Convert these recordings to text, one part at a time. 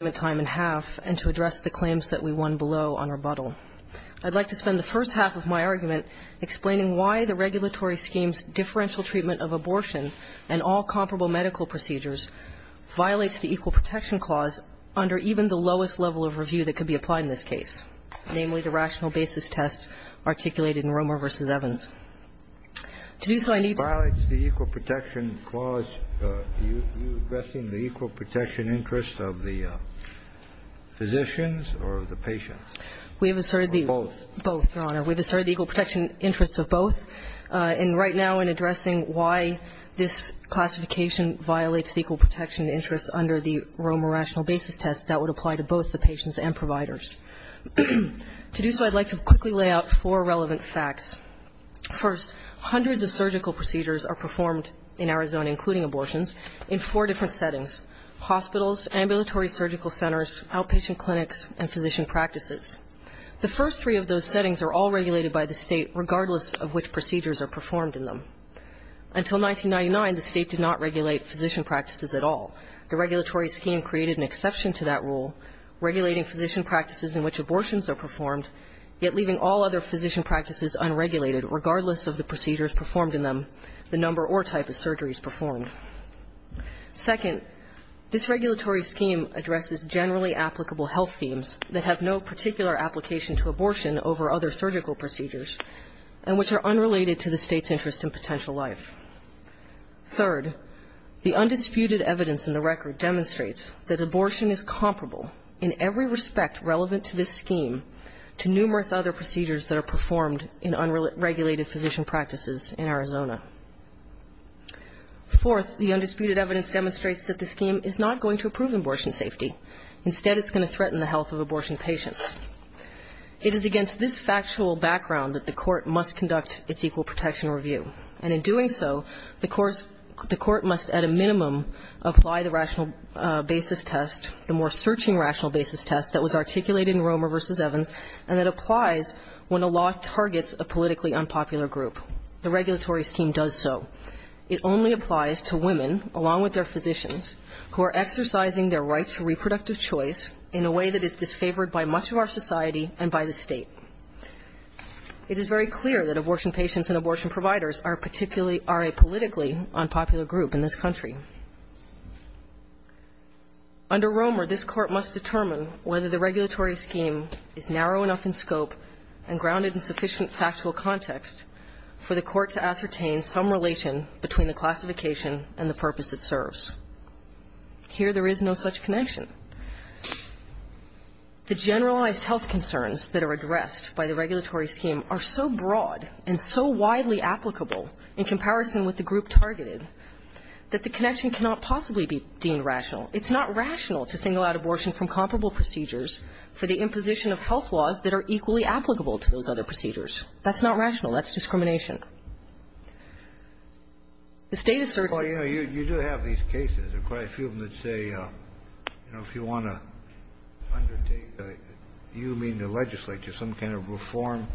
and to address the claims that we won below on rebuttal. I'd like to spend the first half of my argument explaining why the regulatory scheme's differential treatment of abortion and all comparable medical procedures violates the Equal Protection Clause under even the lowest level of review that could be applied in this case, namely the rational basis test articulated in Romer v. Evans. To do so, I need to – It violates the Equal Protection Clause. Are you addressing the equal protection interest of the physicians or of the patients? We have asserted the – Or both? Both, Your Honor. We've asserted the equal protection interest of both. And right now in addressing why this classification violates the equal protection interest under the Romer rational basis test, that would apply to both the patients and providers. To do so, I'd like to quickly lay out four relevant facts. First, hundreds of surgical procedures are performed in Arizona, including abortions, in four different settings, hospitals, ambulatory surgical centers, outpatient clinics, and physician practices. The first three of those settings are all regulated by the State regardless of which procedures are performed in them. Until 1999, the State did not regulate physician practices at all. The regulatory scheme created an exception to that rule, regulating physician practices in which abortions are performed, yet leaving all other physician practices unregulated regardless of the procedures performed in them, the number or type of surgeries performed. Second, this regulatory scheme addresses generally applicable health themes that have no particular application to abortion over other surgical procedures and which are unrelated to the State's interest in potential life. Third, the undisputed evidence in the record demonstrates that abortion is comparable in every respect relevant to this scheme to numerous other procedures that are performed in unregulated physician practices in Arizona. Fourth, the undisputed evidence demonstrates that the scheme is not going to improve abortion safety. Instead, it's going to threaten the health of abortion patients. It is against this factual background that the Court must conduct its equal protection review, and in doing so, the Court must at a minimum apply the rational basis test, the more searching rational basis test that was articulated in Romer v. Evans and that applies when a law targets a politically unpopular group. The regulatory scheme does so. It only applies to women, along with their physicians, who are exercising their right to reproductive choice in a way that is disfavored by much of our society and by the State. It is very clear that abortion patients and abortion providers are particularly are a politically unpopular group in this country. Under Romer, this Court must determine whether the regulatory scheme is narrow enough in scope and grounded in sufficient factual context for the Court to ascertain some relation between the classification and the purpose it serves. Here, there is no such connection. The generalized health concerns that are addressed by the regulatory scheme are so broad and so widely applicable in comparison with the group targeted that the connection cannot possibly be deemed rational. It's not rational to single out abortion from comparable procedures for the imposition of health laws that are equally applicable to those other procedures. That's not rational. The State asserts that the health of abortion patients and abortion providers If you want to undertake, you mean the legislature, some kind of reform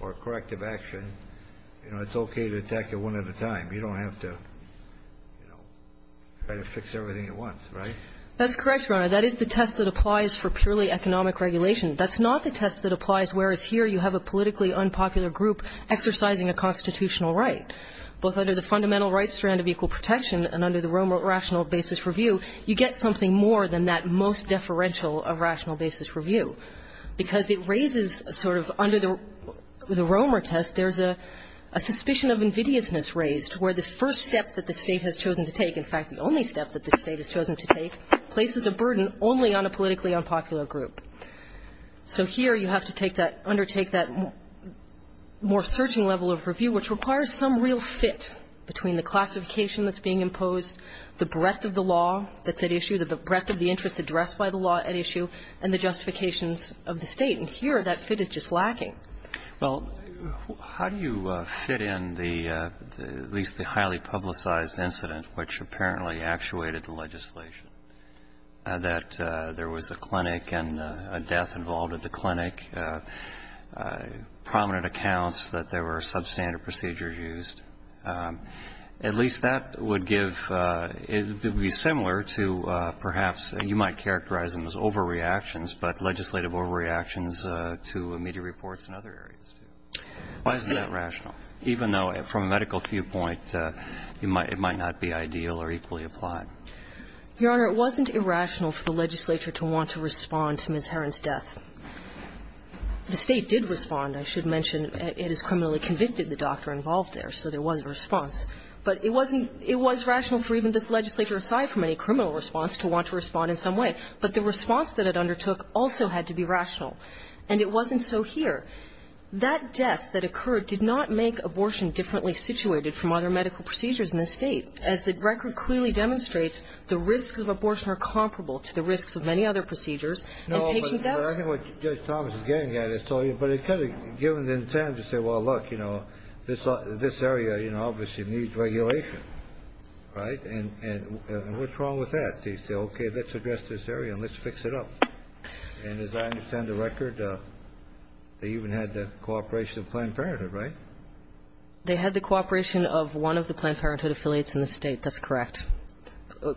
or corrective action, you know, it's okay to attack it one at a time. You don't have to, you know, try to fix everything at once, right? That's correct, Your Honor. That is the test that applies for purely economic regulation. That's not the test that applies, whereas here you have a politically unpopular group exercising a constitutional right. Both under the fundamental right strand of equal protection and under the Romer rational basis review, you get something more than that most deferential of rational basis review, because it raises sort of under the Romer test, there's a suspicion of invidiousness raised where this first step that the State has chosen to take, in fact, the only step that the State has chosen to take, places a burden only on a politically unpopular group. So here you have to take that, undertake that more searching level of review, which requires some real fit between the classification that's being imposed, the breadth of the law that's at issue, the breadth of the interest addressed by the law at issue, and the justifications of the State. And here that fit is just lacking. Well, how do you fit in the, at least the highly publicized incident which apparently actuated the legislation, that there was a clinic and a death involved at the clinic, prominent accounts that there were substandard procedures used? At least that would give, it would be similar to perhaps, you might characterize them as overreactions, but legislative overreactions to media reports and other areas. Why isn't that rational? Even though from a medical viewpoint, it might not be ideal or equally applied. Your Honor, it wasn't irrational for the legislature to want to respond to Ms. Herron's death. The State did respond, I should mention. It has criminally convicted the doctor involved there, so there was a response. But it wasn't, it was rational for even this legislature, aside from any criminal response, to want to respond in some way. But the response that it undertook also had to be rational. And it wasn't so here. That death that occurred did not make abortion differently situated from other medical procedures in the State, as the record clearly demonstrates, the risks of abortion are comparable to the risks of many other procedures and patient deaths. I think what Judge Thomas is getting at is, but it could have given the intent to say, well, look, you know, this area, you know, obviously needs regulation. Right? And what's wrong with that? They say, okay, let's address this area and let's fix it up. And as I understand the record, they even had the cooperation of Planned Parenthood, right? They had the cooperation of one of the Planned Parenthood affiliates in the State. That's correct.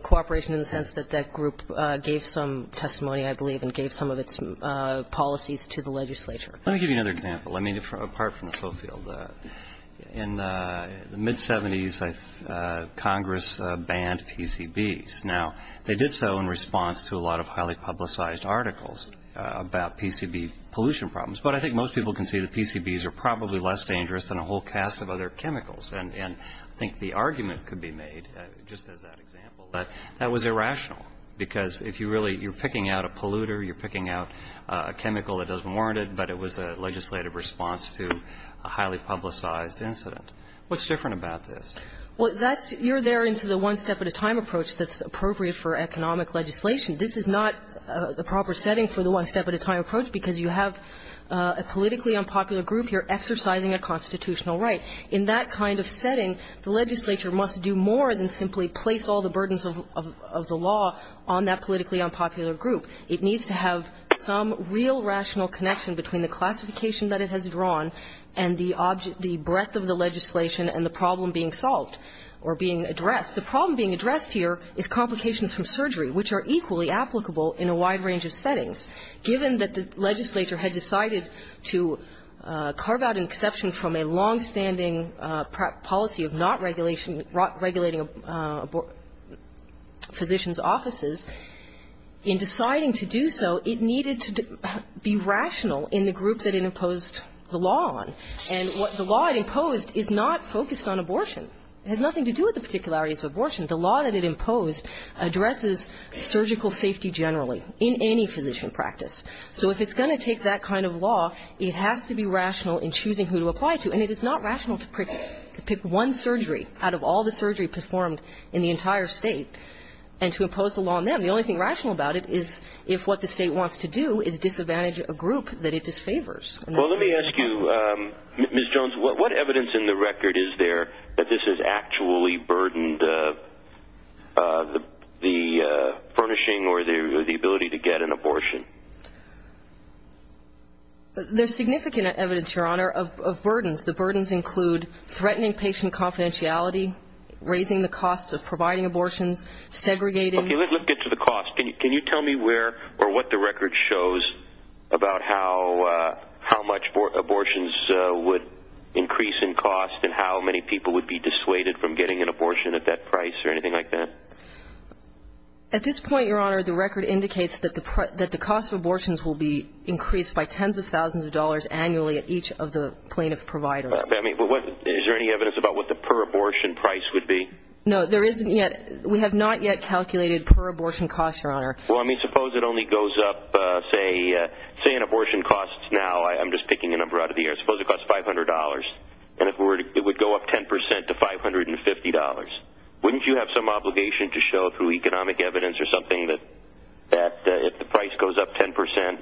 Cooperation in the sense that that group gave some testimony, I believe, and gave some of its policies to the legislature. Let me give you another example. I mean, apart from the full field. In the mid-'70s, Congress banned PCBs. Now, they did so in response to a lot of highly publicized articles about PCB pollution problems. But I think most people can see that PCBs are probably less dangerous than a whole cast of other chemicals. And I think the argument could be made, just as that example, that that was irrational because if you really you're picking out a polluter, you're picking out a chemical that doesn't warrant it, but it was a legislative response to a highly publicized incident. What's different about this? Well, that's you're there into the one-step-at-a-time approach that's appropriate for economic legislation. This is not the proper setting for the one-step-at-a-time approach because you have a politically unpopular group here exercising a constitutional right. And so it's not just a question of the importance of the law on that politically unpopular group. It needs to have some real rational connection between the classification that it has drawn and the breadth of the legislation and the problem being solved or being addressed. The problem being addressed here is complications from surgery, which are equally applicable in a wide range of settings. Given that the legislature had decided to carve out an exception from a longstanding policy of not regulation regulating a physician's offices, in deciding to do so, it needed to be rational in the group that it imposed the law on. And what the law imposed is not focused on abortion. It has nothing to do with the particularities of abortion. The law that it imposed addresses surgical safety generally in any physician practice. So if it's going to take that kind of law, it has to be rational in choosing who to apply to. And it is not rational to pick one surgery out of all the surgery performed in the entire state and to impose the law on them. The only thing rational about it is if what the state wants to do is disadvantage a group that it disfavors. Well, let me ask you, Ms. Jones, what evidence in the record is there that this has actually burdened the furnishing or the ability to get an abortion? There's significant evidence, Your Honor, of burdens. The burdens include threatening patient confidentiality, raising the cost of providing abortions, segregating. Okay, let's get to the cost. Can you tell me where or what the record shows about how much abortions would increase in cost and how many people would be dissuaded from getting an abortion at that price or anything like that? At this point, Your Honor, the record indicates that the cost of abortions will be increased by tens of thousands of dollars annually at each of the plaintiff providers. Is there any evidence about what the per-abortion price would be? No, there isn't yet. We have not yet calculated per-abortion costs, Your Honor. Well, I mean, suppose it only goes up, say, in abortion costs now. I'm just picking a number out of the air. Suppose it costs $500, and it would go up 10 percent to $550. Wouldn't you have some obligation to show through economic evidence or something that if the price goes up 10 percent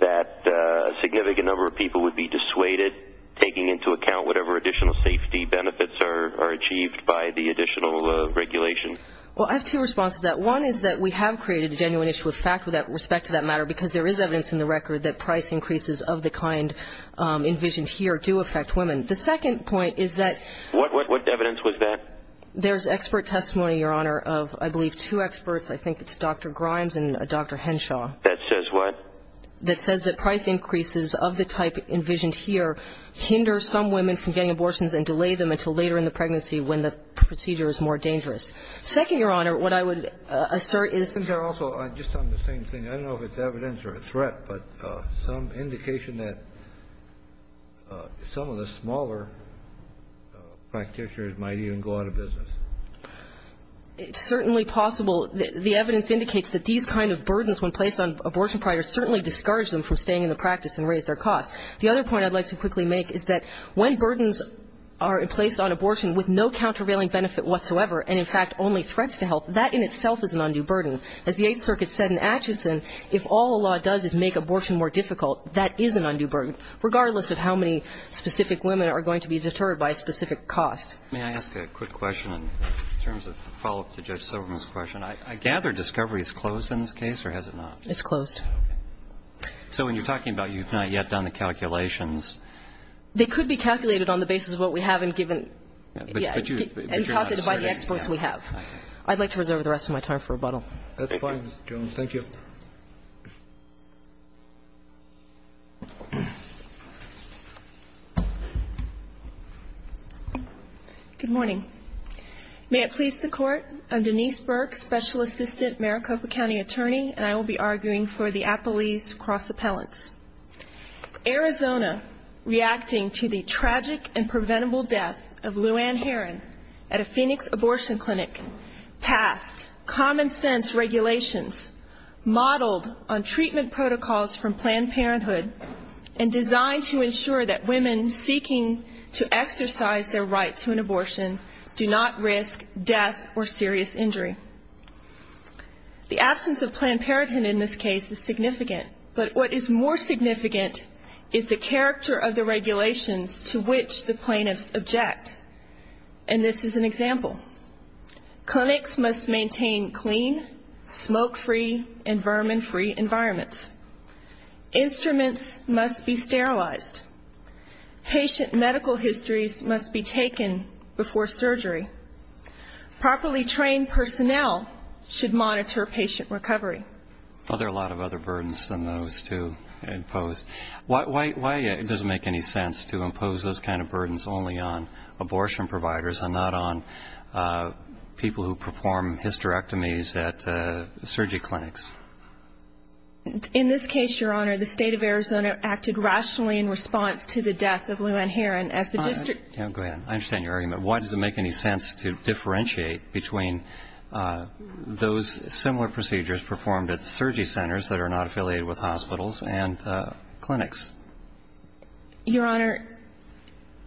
that a significant number of people would be dissuaded, taking into account whatever additional safety benefits are achieved by the additional regulation? Well, I have two responses to that. One is that we have created a genuine issue of fact with respect to that matter because there is evidence in the record that price increases of the kind envisioned here do affect women. The second point is that ---- What evidence was that? There's expert testimony, Your Honor, of I believe two experts. I think it's Dr. Grimes and Dr. Henshaw. That says what? That says that price increases of the type envisioned here hinder some women from getting abortions and delay them until later in the pregnancy when the procedure is more dangerous. Second, Your Honor, what I would assert is ---- I think also, just on the same thing, I don't know if it's evidence or a threat, but some indication that some of the smaller practitioners might even go out of business. It's certainly possible. The evidence indicates that these kind of burdens when placed on abortion providers certainly discourage them from staying in the practice and raise their costs. The other point I'd like to quickly make is that when burdens are placed on abortion with no countervailing benefit whatsoever and, in fact, only threats to help, that in itself is an undue burden. As the Eighth Circuit said in Atchison, if all a law does is make abortion more difficult, that is an undue burden, regardless of how many specific women are going to be deterred by a specific cost. May I ask a quick question in terms of follow-up to Judge Silverman's question? I gather discovery is closed in this case, or has it not? It's closed. So when you're talking about you've not yet done the calculations ---- They could be calculated on the basis of what we have and given ---- But you're not asserting ---- And calculated by the experts we have. I'd like to reserve the rest of my time for rebuttal. That's fine, Mr. Jones. Thank you. Good morning. May it please the Court, I'm Denise Burke, Special Assistant Maricopa County Attorney, and I will be arguing for the Appelese Cross Appellants. Arizona, reacting to the tragic and preventable death of Luann Herron at a Phoenix abortion clinic passed common-sense regulations modeled on treatment protocols from Planned Parenthood and designed to ensure that women seeking to exercise their right to an abortion do not risk death or serious injury. The absence of Planned Parenthood in this case is significant, but what is more significant is the character of the regulations to which the plaintiffs object. And this is an example. Clinics must maintain clean, smoke-free, and vermin-free environments. Instruments must be sterilized. Patient medical histories must be taken before surgery. Properly trained personnel should monitor patient recovery. Well, there are a lot of other burdens than those two imposed. Why does it make any sense to impose those kind of burdens only on abortion providers and not on people who perform hysterectomies at surgery clinics? In this case, Your Honor, the State of Arizona acted rationally in response to the death of Luann Herron as the district... Go ahead. I understand your argument. Why does it make any sense to differentiate between those similar procedures performed at the surgery centers that are not affiliated with hospitals and clinics? Your Honor,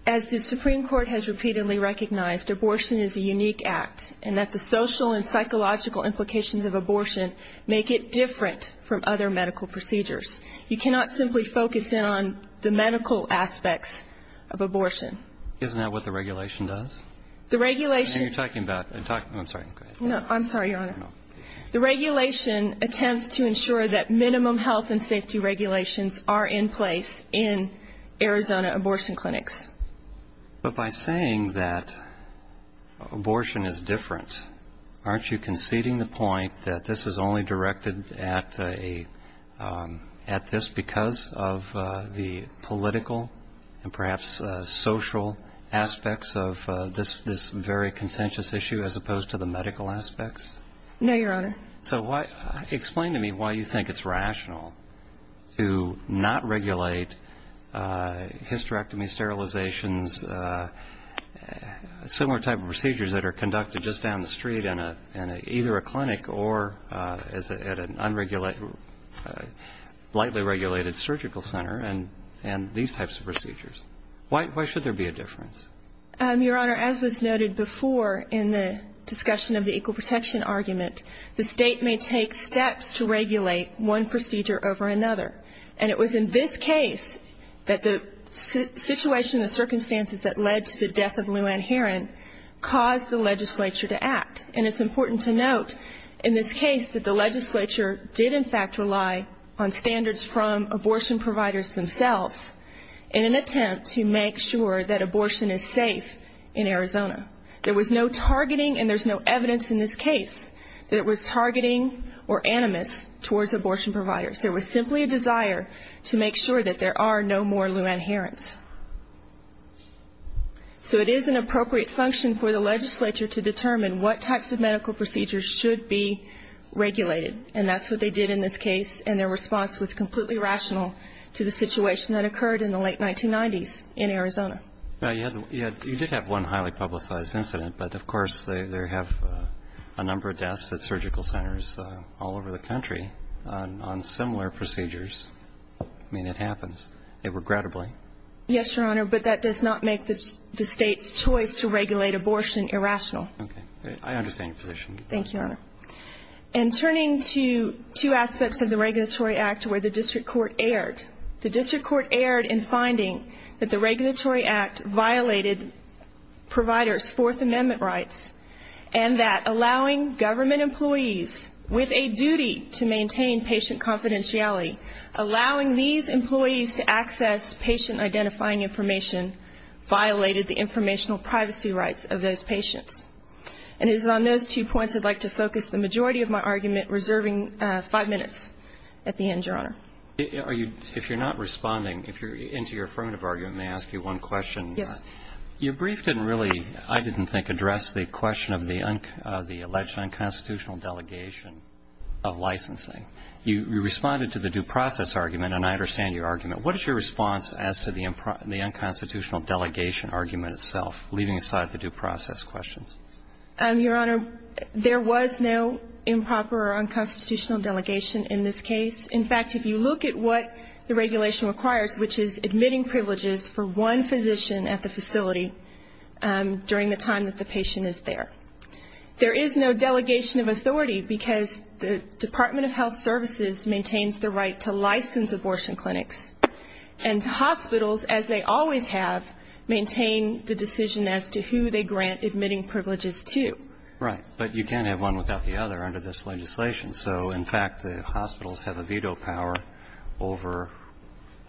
as the Supreme Court has repeatedly recognized, abortion is a unique act, and that the social and psychological implications of abortion make it different from other medical procedures. You cannot simply focus in on the medical aspects of abortion. Isn't that what the regulation does? The regulation... And you're talking about... I'm sorry. No, I'm sorry, Your Honor. The regulation attempts to ensure that minimum health and safety regulations are in place in Arizona abortion clinics. But by saying that abortion is different, aren't you conceding the point that this is only directed at this because of the political and perhaps social aspects of this very contentious issue as opposed to the medical aspects? No, Your Honor. So explain to me why you think it's rational to not regulate hysterectomy sterilizations, similar type of procedures that are conducted just down the street in either a clinic or at an unregulated, lightly regulated surgical center, and these types of procedures. Why should there be a difference? Your Honor, as was noted before in the discussion of the equal protection argument, the state may take steps to regulate one procedure over another. And it was in this case that the situation, the circumstances that led to the death of Lou Anne Herron caused the legislature to act. And it's important to note in this case that the legislature did in fact rely on standards from abortion providers themselves in an attempt to make sure that abortion is safe in Arizona. There was no targeting, and there's no evidence in this case, that it was targeting or animus towards abortion providers. There was simply a desire to make sure that there are no more Lou Anne Herrons. So it is an appropriate function for the legislature to determine what types of medical procedures should be regulated. And that's what they did in this case, and their response was completely rational to the situation that occurred in the late 1990s in Arizona. Well, you did have one highly publicized incident, but of course there have a number of deaths at surgical centers all over the country on similar procedures. I mean, it happens. Yes, Your Honor. But that does not make the State's choice to regulate abortion irrational. Okay. I understand your position. Thank you, Your Honor. And turning to two aspects of the Regulatory Act where the district court erred. The district court erred in finding that the Regulatory Act violated providers' Fourth Amendment rights and that allowing government employees with a duty to maintain patient confidentiality, allowing these employees to access patient-identifying information, violated the informational privacy rights of those patients. And it is on those two points I'd like to focus the majority of my argument, reserving five minutes at the end, Your Honor. If you're not responding, if you're into your affirmative argument, may I ask you one question? Yes. Your brief didn't really, I didn't think, address the question of the alleged unconstitutional delegation of licensing. You responded to the due process argument, and I understand your argument. What is your response as to the unconstitutional delegation argument itself, leaving aside the due process questions? Your Honor, there was no improper or unconstitutional delegation in this case. In fact, if you look at what the regulation requires, which is admitting privileges for one physician at the facility during the time that the patient is there, there is no delegation of authority because the Department of Health Services maintains the right to license abortion clinics. And hospitals, as they always have, maintain the decision as to who they grant admitting privileges to. Right. But you can't have one without the other under this legislation. So, in fact, the hospitals have a veto power over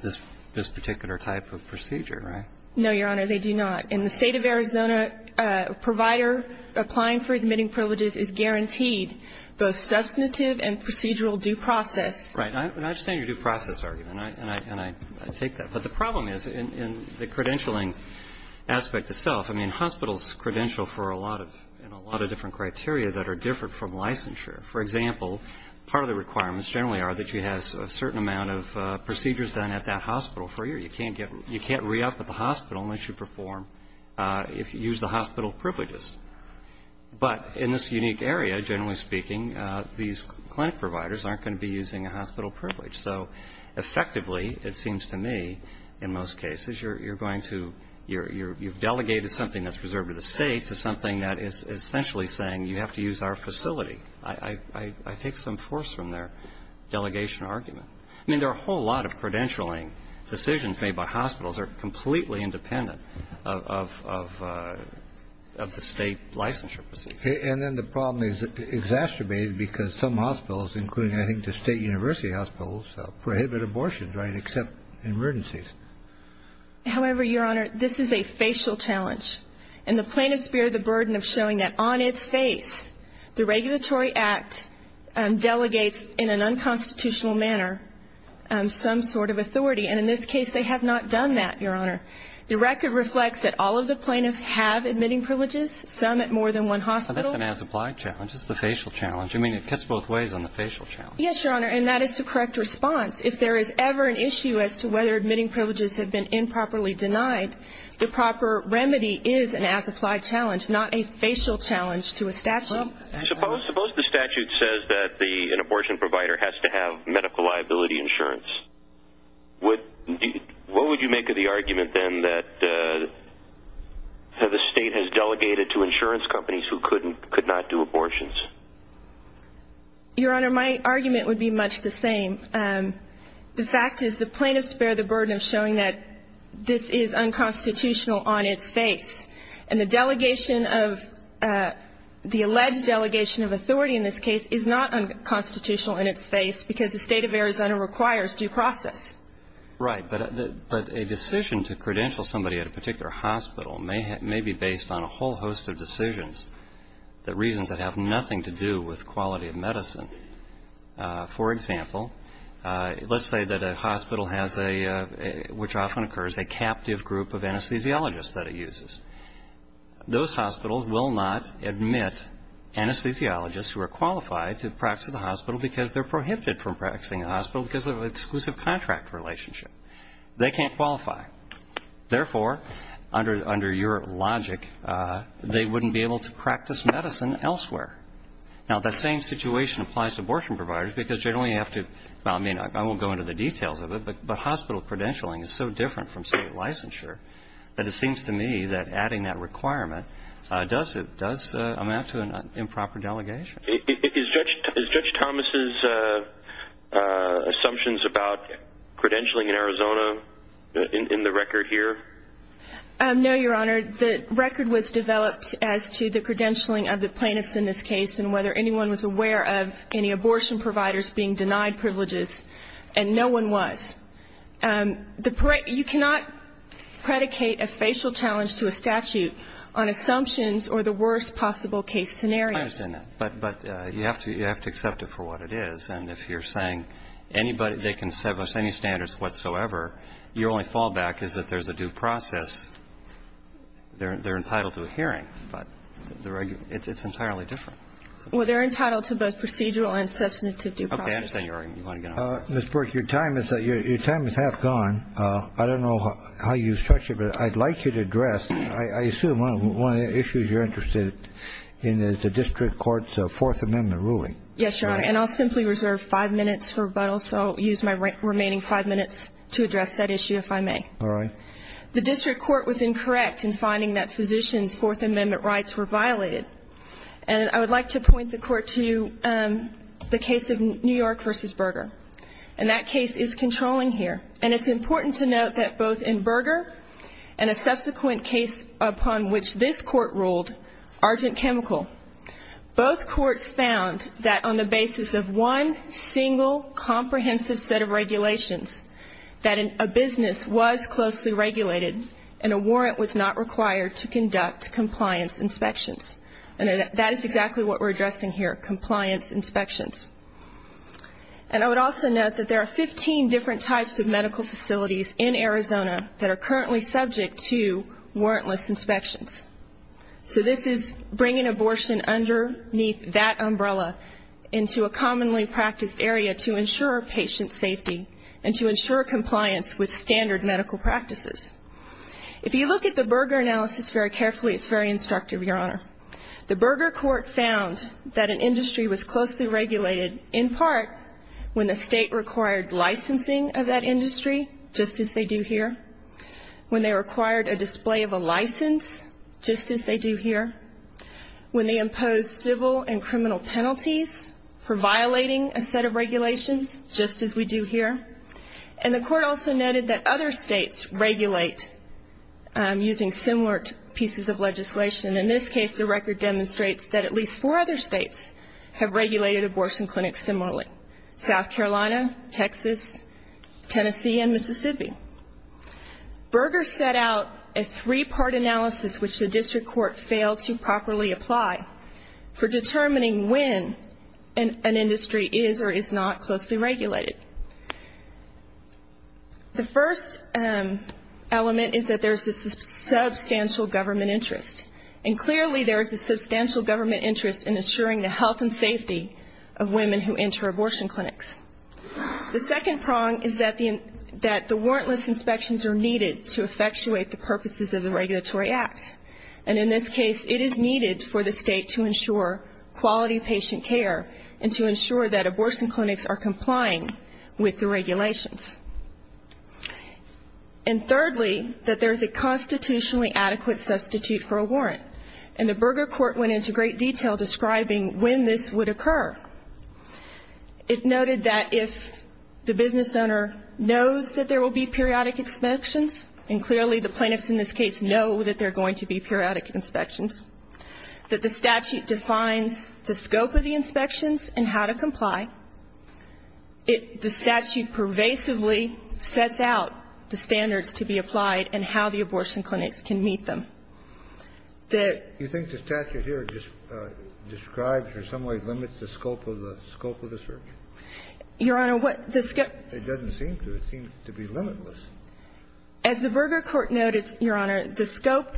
this particular type of procedure, right? No, Your Honor, they do not. In the State of Arizona, a provider applying for admitting privileges is guaranteed both substantive and procedural due process. Right. And I understand your due process argument, and I take that. But the problem is, in the credentialing aspect itself, I mean, hospitals credential for a lot of different criteria that are different from licensure. For example, part of the requirements generally are that you have a certain amount of procedures done at that hospital for a year. You can't re-up at the hospital unless you use the hospital privileges. But in this unique area, generally speaking, these clinic providers aren't going to be using a hospital privilege. So, effectively, it seems to me, in most cases, you've delegated something that's reserved to the state to something that is essentially saying, you have to use our facility. I take some force from their delegation argument. I mean, there are a whole lot of credentialing decisions made by hospitals that are completely independent of the state licensure procedure. And then the problem is exacerbated because some hospitals, including, I think, the State University hospitals, prohibit abortions, right, except in emergencies. However, Your Honor, this is a facial challenge. And the plaintiffs bear the burden of showing that on its face, the Regulatory Act delegates in an unconstitutional manner some sort of authority. And in this case, they have not done that, Your Honor. The record reflects that all of the plaintiffs have admitting privileges, some at more than one hospital. But that's an as-applied challenge. It's the facial challenge. I mean, it cuts both ways on the facial challenge. Yes, Your Honor, and that is the correct response. If there is ever an issue as to whether admitting privileges have been improperly denied, the proper remedy is an as-applied challenge, not a facial challenge to a statute. Suppose the statute says that an abortion provider has to have medical liability insurance. What would you make of the argument, then, that the state has delegated to insurance companies who could not do abortions? Your Honor, my argument would be much the same. The fact is the plaintiffs bear the burden of showing that this is unconstitutional on its face. And the delegation of the alleged delegation of authority in this case is not unconstitutional in its face because the State of Arizona requires due process. Right. But a decision to credential somebody at a particular hospital may be based on a whole host of decisions, the reasons that have nothing to do with quality of medicine. For example, let's say that a hospital has a, which often occurs, a captive group of anesthesiologists that it uses. Those hospitals will not admit anesthesiologists who are qualified to practice at the hospital because they're prohibited from practicing at the hospital because of an exclusive contract relationship. They can't qualify. Therefore, under your logic, they wouldn't be able to practice medicine elsewhere. Now, the same situation applies to abortion providers because they'd only have to, well, I mean, I won't go into the details of it, but hospital credentialing is so different from state licensure that it seems to me that adding that requirement does amount to an improper delegation. Is Judge Thomas' assumptions about credentialing in Arizona in the record here? No, Your Honor. The record was developed as to the credentialing of the plaintiffs in this case and whether anyone was aware of any abortion providers being denied privileges, and no one was. You cannot predicate a facial challenge to a statute on assumptions or the worst possible case scenarios. I understand that. But you have to accept it for what it is. And if you're saying anybody, they can set any standards whatsoever, your only fallback is that there's a due process, they're entitled to a hearing. But it's entirely different. Well, they're entitled to both procedural and substantive due process. Ms. Burke, your time is half gone. I don't know how you structure it, but I'd like you to address, I assume, one of the issues you're interested in is the district court's Fourth Amendment ruling. Yes, Your Honor. And I'll simply reserve five minutes for rebuttal, so I'll use my remaining five minutes to address that issue if I may. All right. The district court was incorrect in finding that physicians' Fourth Amendment rights were violated. And I would like to point the Court to the case of New York v. Berger. And that case is controlling here. And it's important to note that both in Berger and a subsequent case upon which this Court ruled, Argent Chemical, both courts found that on the basis of one single comprehensive set of regulations, that a business was closely regulated and a warrant was not required to conduct compliance inspections. And that is exactly what we're addressing here, compliance inspections. And I would also note that there are 15 different types of medical facilities in Arizona that are currently subject to warrantless inspections. So this is bringing abortion underneath that umbrella into a commonly practiced area to ensure patient safety and to ensure compliance with standard medical practices. If you look at the Berger analysis very carefully, it's very instructive, Your Honor. The Berger court found that an industry was closely regulated in part when the state required licensing of that industry, just as they do here, when they required a display of a license, just as they do here, when they imposed civil and criminal penalties for violating a set of regulations, just as we do here. And the Court also noted that other states regulate using similar pieces of legislation. In this case, the record demonstrates that at least four other states have regulated abortion clinics similarly, Berger set out a three-part analysis which the district court failed to properly apply for determining when an industry is or is not closely regulated. The first element is that there's a substantial government interest. And clearly there is a substantial government interest in ensuring the health and safety of women who enter abortion clinics. The second prong is that the warrantless inspections are needed to effectuate the purposes of the Regulatory Act. And in this case, it is needed for the state to ensure quality patient care and to ensure that abortion clinics are complying with the regulations. And thirdly, that there's a constitutionally adequate substitute for a warrant. And the Berger court went into great detail describing when this would occur. It noted that if the business owner knows that there will be periodic inspections and clearly the plaintiffs in this case know that there are going to be periodic inspections, that the statute defines the scope of the inspections and how to comply. The statute pervasively sets out the standards to be applied and how the abortion clinics can meet them. Do you think the statute here just describes or in some way limits the scope of the search? Your Honor, what the scope... It doesn't seem to. It seems to be limitless. As the Berger court noted, Your Honor, the scope,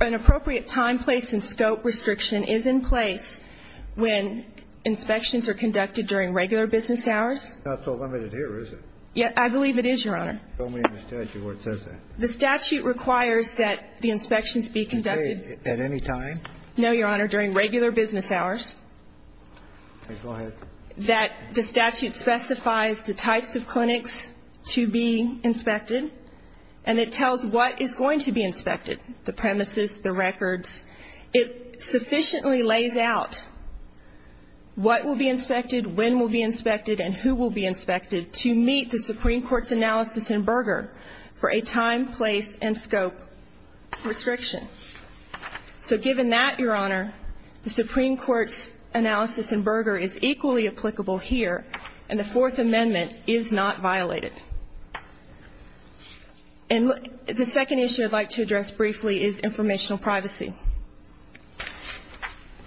an appropriate time, place and scope restriction is in place when inspections are conducted during regular business hours. It's not so limited here, is it? Yeah, I believe it is, Your Honor. Tell me in the statute where it says that. The statute requires that the inspections be conducted... At any time? No, Your Honor, during regular business hours. Go ahead. That the statute specifies the types of clinics to be inspected and it tells what is going to be inspected, the premises, the records. It sufficiently lays out what will be inspected, when will be inspected and who will be inspected to meet the Supreme Court's analysis in Berger for a time, place and scope restriction. So given that, Your Honor, the Supreme Court's analysis in Berger is equally applicable here and the Fourth Amendment is not violated. And the second issue I'd like to address briefly is informational privacy.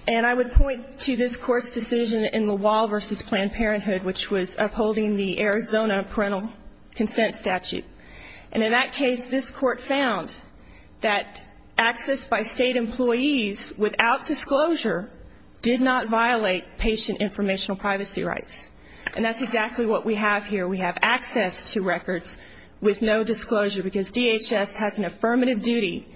And I would point to this Court's decision in the Wall v. Planned Parenthood which was upholding the Arizona parental consent statute. And in that case, this Court found that access by state employees without disclosure did not violate patient informational privacy rights. And that's exactly what we have here. We have access to records with no disclosure because DHS has an affirmative duty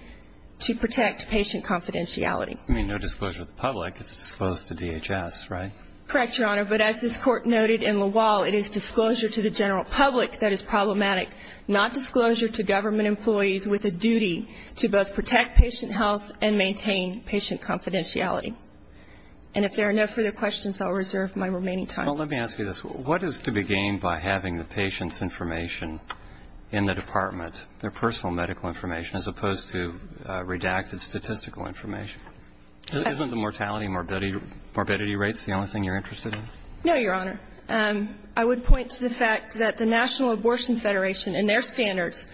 to protect patient confidentiality. You mean no disclosure to the public, it's disclosed to DHS, right? Correct, Your Honor. But as this Court noted in the Wall, it is disclosure to the general public that is problematic, not disclosure to government employees with a duty to both protect patient health and maintain patient confidentiality. And if there are no further questions, I'll reserve my remaining time. Well, let me ask you this. What is to be gained by having the patient's information in the department, their personal medical information, as opposed to redacted statistical information? Isn't the mortality and morbidity rates the only thing you're interested in? No, Your Honor. I would point to the fact that the National Abortion Federation and their standards,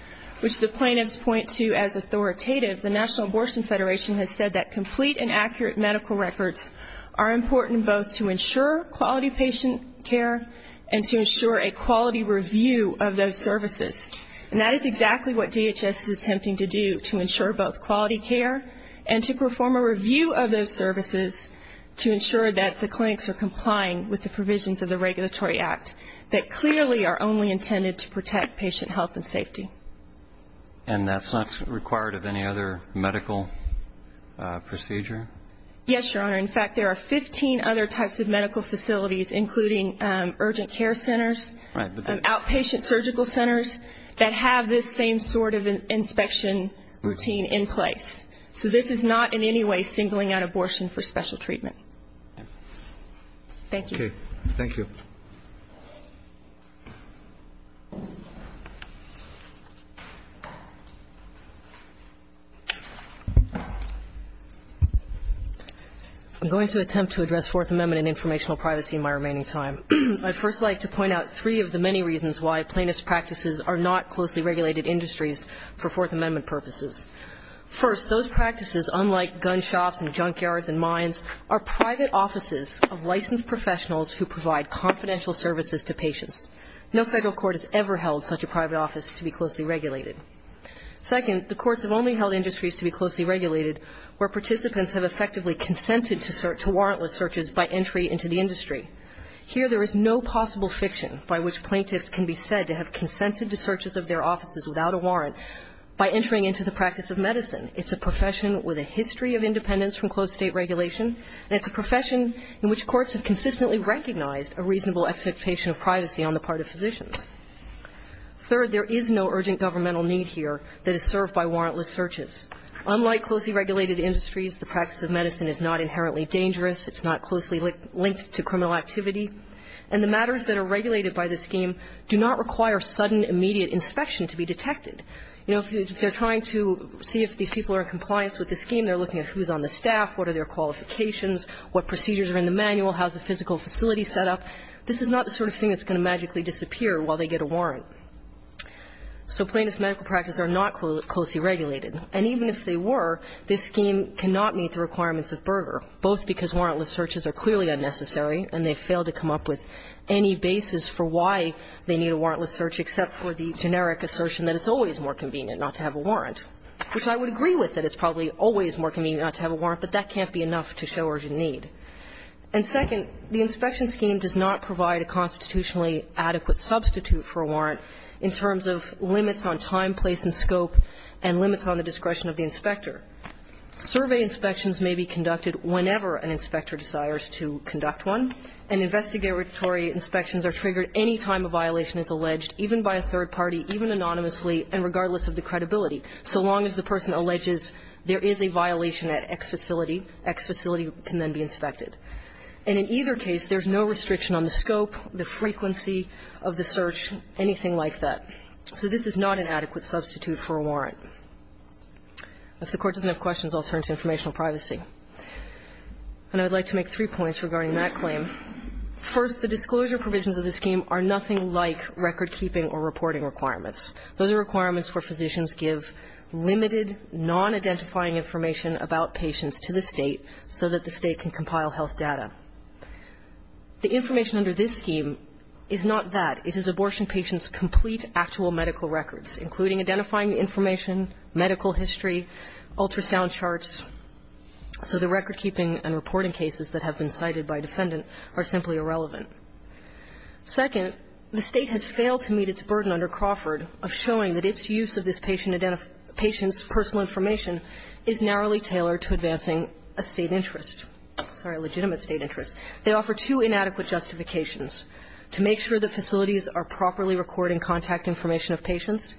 which the plaintiffs point to as authoritative, the National Abortion Federation has said that complete and accurate medical records are important both to ensure quality patient care and to ensure a quality review of those services. And that is exactly what DHS is attempting to do, to ensure both quality care and to perform a review of those services to ensure that the clinics are complying with the provisions of the Regulatory Act that clearly are only intended to protect patient health and safety. And that's not required of any other medical procedure? Yes, Your Honor. In fact, there are 15 other types of medical facilities, including urgent care centers, outpatient surgical centers, that have this same sort of inspection routine in place. So this is not in any way singling out abortion for special treatment. Thank you. Okay. Thank you. I'm going to attempt to address Fourth Amendment and informational privacy in my remaining time. I'd first like to point out three of the many reasons why plaintiffs' practices are not closely regulated industries for Fourth Amendment purposes. First, those practices, unlike gun shops and junkyards and mines, are private offices of licensed professionals who provide confidential services to patients. No Federal court has ever held such a private office to be closely regulated. Second, the courts have only held industries to be closely regulated where participants have effectively consented to warrantless searches by entry into the industry. There is no possible fiction by which plaintiffs can be said to have consented to searches of their offices without a warrant by entering into the practice of medicine. It's a profession with a history of independence from closed state regulation, and it's a profession in which courts have consistently recognized a reasonable expectation of privacy on the part of physicians. Third, there is no urgent governmental need here that is served by warrantless searches. Unlike closely regulated industries, the practice of medicine is not inherently dangerous. It's not closely linked to criminal activity. And the matters that are regulated by this scheme do not require sudden immediate inspection to be detected. You know, if they're trying to see if these people are in compliance with the scheme, they're looking at who's on the staff, what are their qualifications, what procedures are in the manual, how's the physical facility set up. This is not the sort of thing that's going to magically disappear while they get a warrant. So plaintiffs' medical practices are not closely regulated. And even if they were, this scheme cannot meet the requirements of Berger, both because warrantless searches are clearly unnecessary and they fail to come up with any basis for why they need a warrantless search, except for the generic assertion that it's always more convenient not to have a warrant, which I would agree with, that it's probably always more convenient not to have a warrant, but that can't be enough to show urgent need. And second, the inspection scheme does not provide a constitutionally adequate substitute for a warrant in terms of limits on time, place and scope and limits on the discretion of the inspector. Survey inspections may be conducted whenever an inspector desires to conduct one, and investigatory inspections are triggered any time a violation is alleged, even by a third party, even anonymously, and regardless of the credibility. So long as the person alleges there is a violation at X facility, X facility can then be inspected. And in either case, there's no restriction on the scope, the frequency of the search, anything like that. So this is not an adequate substitute for a warrant. If the Court doesn't have questions, I'll turn to informational privacy. And I would like to make three points regarding that claim. First, the disclosure provisions of the scheme are nothing like recordkeeping or reporting requirements. Those are requirements where physicians give limited, non-identifying information about patients to the State so that the State can compile health data. The information under this scheme is not that. It is abortion patients' complete actual medical records, including identifying information, medical history, ultrasound charts. So the recordkeeping and reporting cases that have been cited by defendant are simply irrelevant. Second, the State has failed to meet its burden under Crawford of showing that its use of this patient's personal information is narrowly tailored to advancing a State interest, sorry, a legitimate State interest. They offer two inadequate justifications. To make sure the facilities are properly recording contact information of patients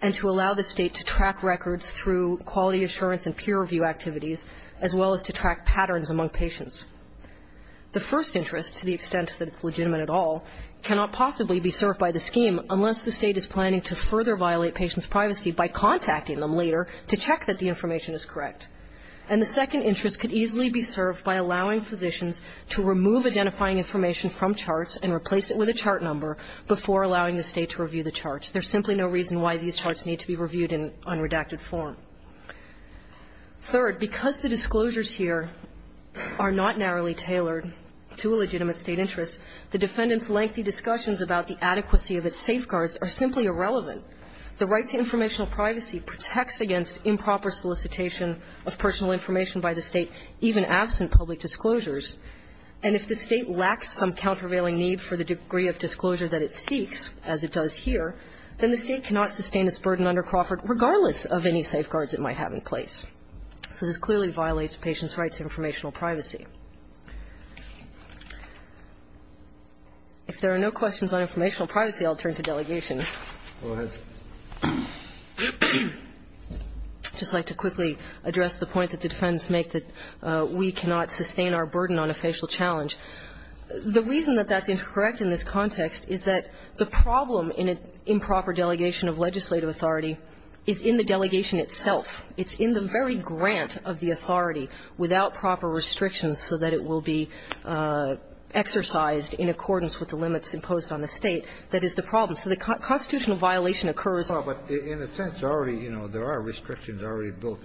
and to allow the State to track records through quality assurance and peer review activities, as well as to track patterns among patients. The first interest, to the extent that it's legitimate at all, cannot possibly be served by the scheme unless the State is planning to further violate patients' privacy by contacting them later to check that the information is correct. And the second interest could easily be served by allowing physicians to remove identifying information from charts and replace it with a chart number before allowing the State to review the charts. There's simply no reason why these charts need to be reviewed in unredacted form. Third, because the disclosures here are not narrowly tailored to a legitimate State interest, the defendant's lengthy discussions about the adequacy of its safeguards are simply irrelevant. The right to informational privacy protects against improper solicitation of personal information by the State, even absent public disclosures. And if the State is not able to fulfill the measure that it seeks, as it does here, then the State cannot sustain its burden under Crawford, regardless of any safeguards it might have in place. So this clearly violates patients' rights to informational privacy. If there are no questions on informational privacy, I'll turn to delegation. Go ahead. I'd just like to quickly address the point that the defendants make, that we cannot sustain our burden on a facial challenge. That is, that the problem in improper delegation of legislative authority is in the delegation itself. It's in the very grant of the authority without proper restrictions so that it will be exercised in accordance with the limits imposed on the State. That is the problem. So the constitutional violation occurs. But in a sense, already, you know, there are restrictions already built.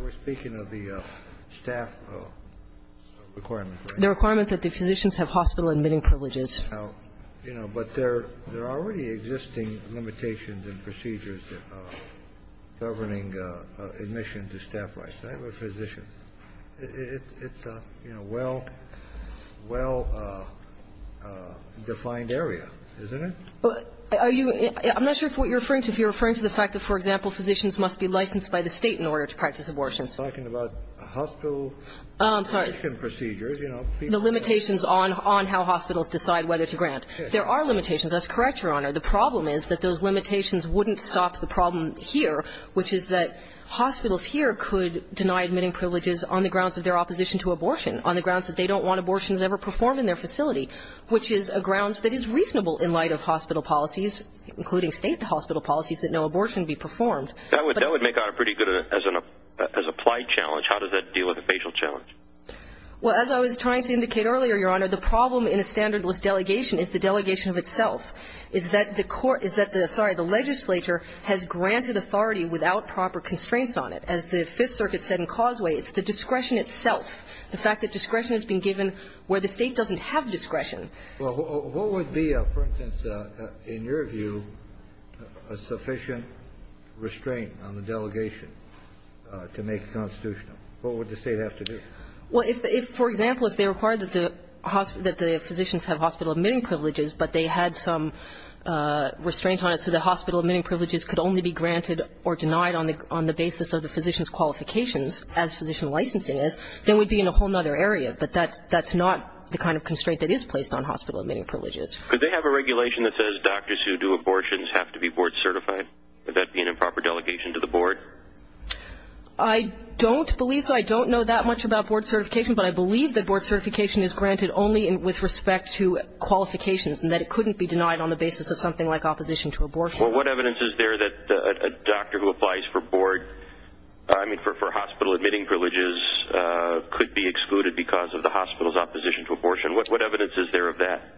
We're speaking of the staff requirement, right? The requirement that the physicians have hospital admitting privileges. Now, you know, but there are already existing limitations and procedures governing admission to staff rights. I have a physician. It's a, you know, well, well-defined area, isn't it? Are you – I'm not sure what you're referring to. If you're referring to the fact that, for example, physicians must be licensed by the State in order to practice abortions. I'm talking about hospital admission procedures. I'm sorry. The limitations on how hospitals decide whether to grant. There are limitations. That's correct, Your Honor. The problem is that those limitations wouldn't stop the problem here, which is that hospitals here could deny admitting privileges on the grounds of their opposition to abortion, on the grounds that they don't want abortions ever performed in their facility, which is a grounds that is reasonable in light of hospital policies, including State hospital policies, that no abortion be performed. That would make, Your Honor, pretty good as an applied challenge. How does that deal with a facial challenge? Well, as I was trying to indicate earlier, Your Honor, the problem in a standardless delegation is the delegation of itself, is that the court – sorry, the legislature has granted authority without proper constraints on it. As the Fifth Circuit said in Causeway, it's the discretion itself, the fact that discretion has been given where the State doesn't have discretion. Well, what would be, for instance, in your view, a sufficient restraint on the delegation to make it constitutional? What would the State have to do? Well, if, for example, if they require that the physicians have hospital admitting privileges, but they had some restraint on it so that hospital admitting privileges could only be granted or denied on the basis of the physician's qualifications as physician licensing is, then we'd be in a whole other area. But that's not the kind of constraint that is placed on hospital admitting privileges. Could they have a regulation that says doctors who do abortions have to be board certified? Would that be an improper delegation to the board? I don't believe so. I don't know that much about board certification. But I believe that board certification is granted only with respect to qualifications and that it couldn't be denied on the basis of something like opposition to abortion. Well, what evidence is there that a doctor who applies for board – I mean, for hospital admitting privileges could be excluded because of the hospital's opposition to abortion? What evidence is there of that?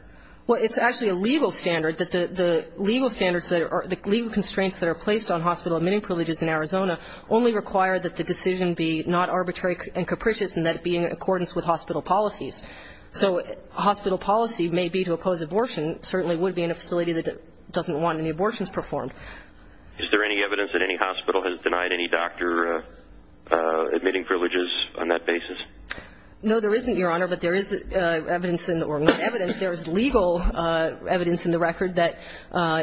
Well, it's actually a legal standard that the legal standards that are – the legal constraints that are placed on hospital admitting privileges in Arizona only require that the decision be not arbitrary and capricious and that it be in accordance with hospital policies. So a hospital policy may be to oppose abortion, certainly would be in a facility that doesn't want any abortions performed. Is there any evidence that any hospital has denied any doctor admitting privileges on that basis? No, there isn't, Your Honor, but there is evidence in the – or not evidence. There is legal evidence in the record that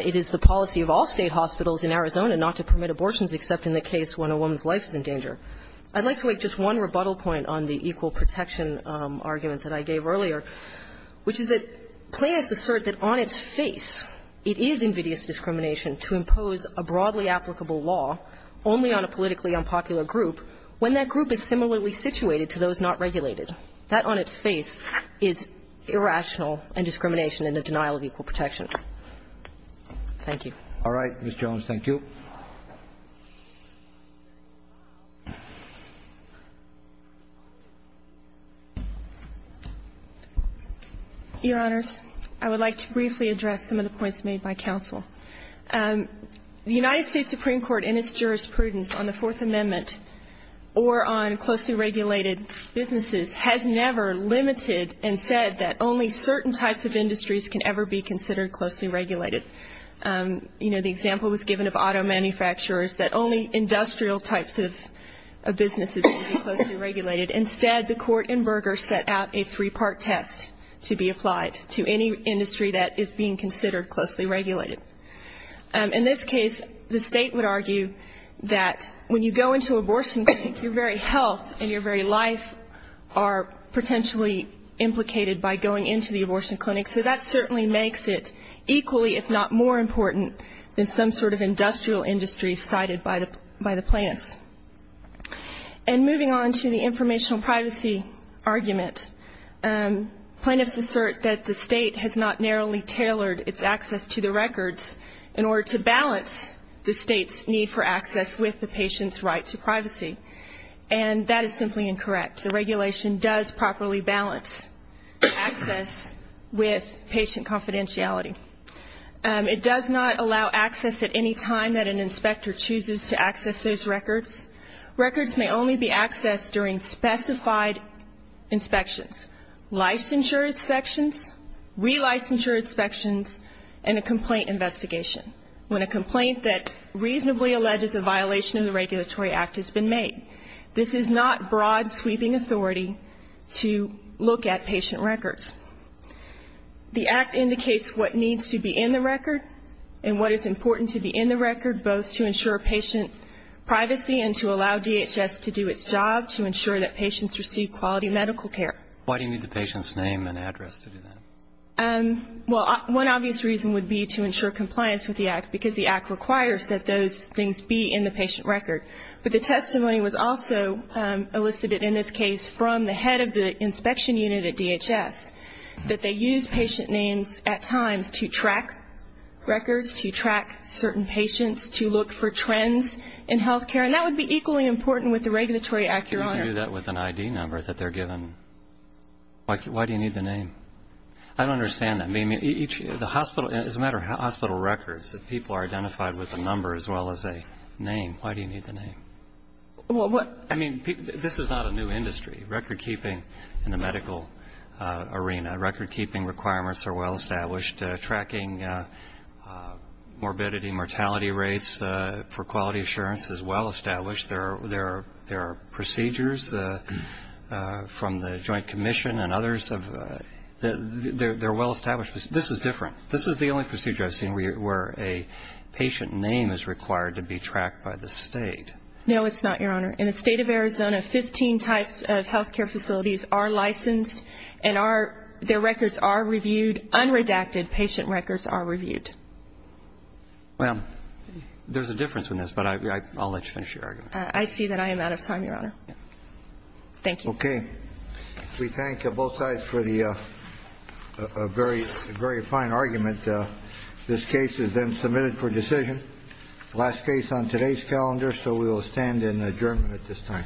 it is the policy of all state hospitals in Arizona not to permit abortions except in the case when a woman's life is in danger. I'd like to make just one rebuttal point on the equal protection argument that I gave earlier, which is that plaintiffs assert that on its face it is invidious discrimination to impose a broadly applicable law only on a politically unpopular group when that group is similarly situated to those not regulated. That on its face is irrational and discrimination and a denial of equal protection. Thank you. All right. Ms. Jones, thank you. Your Honors, I would like to briefly address some of the points made by counsel. The United States Supreme Court in its jurisprudence on the Fourth Amendment or on closely regulated businesses has never limited and said that only certain types of industries can ever be considered closely regulated. You know, the example was given of auto manufacturers, that only industrial types of businesses can be closely regulated. Instead, the court in Berger set out a three-part test to be applied to any industry that is being considered closely regulated. In this case, the State would argue that when you go into an abortion clinic, your very health and your very life are potentially implicated by going into the abortion clinic. So that certainly makes it equally, if not more important, than some sort of industrial industry cited by the plaintiffs. And moving on to the informational privacy argument, plaintiffs assert that the State has not narrowly tailored its access to the records in order to balance the State's need for access with the patient's right to privacy. And that is simply incorrect. The regulation does properly balance access with patient confidentiality. It does not allow access at any time that an inspector chooses to access those records. Records may only be accessed during specified inspections, licensure inspections, relicensure inspections, and a complaint investigation. When a complaint that reasonably alleges a violation of the Regulatory Act has been made. This is not broad sweeping authority to look at patient records. The Act indicates what needs to be in the record and what is important to be in the record, both to ensure patient privacy and to allow DHS to do its job to ensure that patients receive quality medical care. Why do you need the patient's name and address to do that? Well, one obvious reason would be to ensure compliance with the Act, because the Act requires that those things be in the patient record. But the testimony was also elicited in this case from the head of the inspection unit at DHS, that they use patient names at times to track records, to track certain patients, to look for trends in health care, and that would be equally important with the Regulatory Act, Your Honor. You can do that with an ID number that they're given. Why do you need the name? I don't understand that. I mean, the hospital, as a matter of hospital records, if people are identified with a number as well as a name, why do you need the name? I mean, this is not a new industry. Recordkeeping in the medical arena, recordkeeping requirements are well-established. Tracking morbidity, mortality rates for quality assurance is well-established. There are procedures from the Joint Commission and others. They're well-established. This is different. This is the only procedure I've seen where a patient name is required to be tracked by the state. No, it's not, Your Honor. In the state of Arizona, 15 types of health care facilities are licensed, and their records are reviewed. Unredacted patient records are reviewed. Well, there's a difference in this, but I'll let you finish your argument. I see that I am out of time, Your Honor. Thank you. Okay. We thank both sides for the very fine argument. This case is then submitted for decision. Last case on today's calendar, so we will stand in adjournment at this time. Thanks.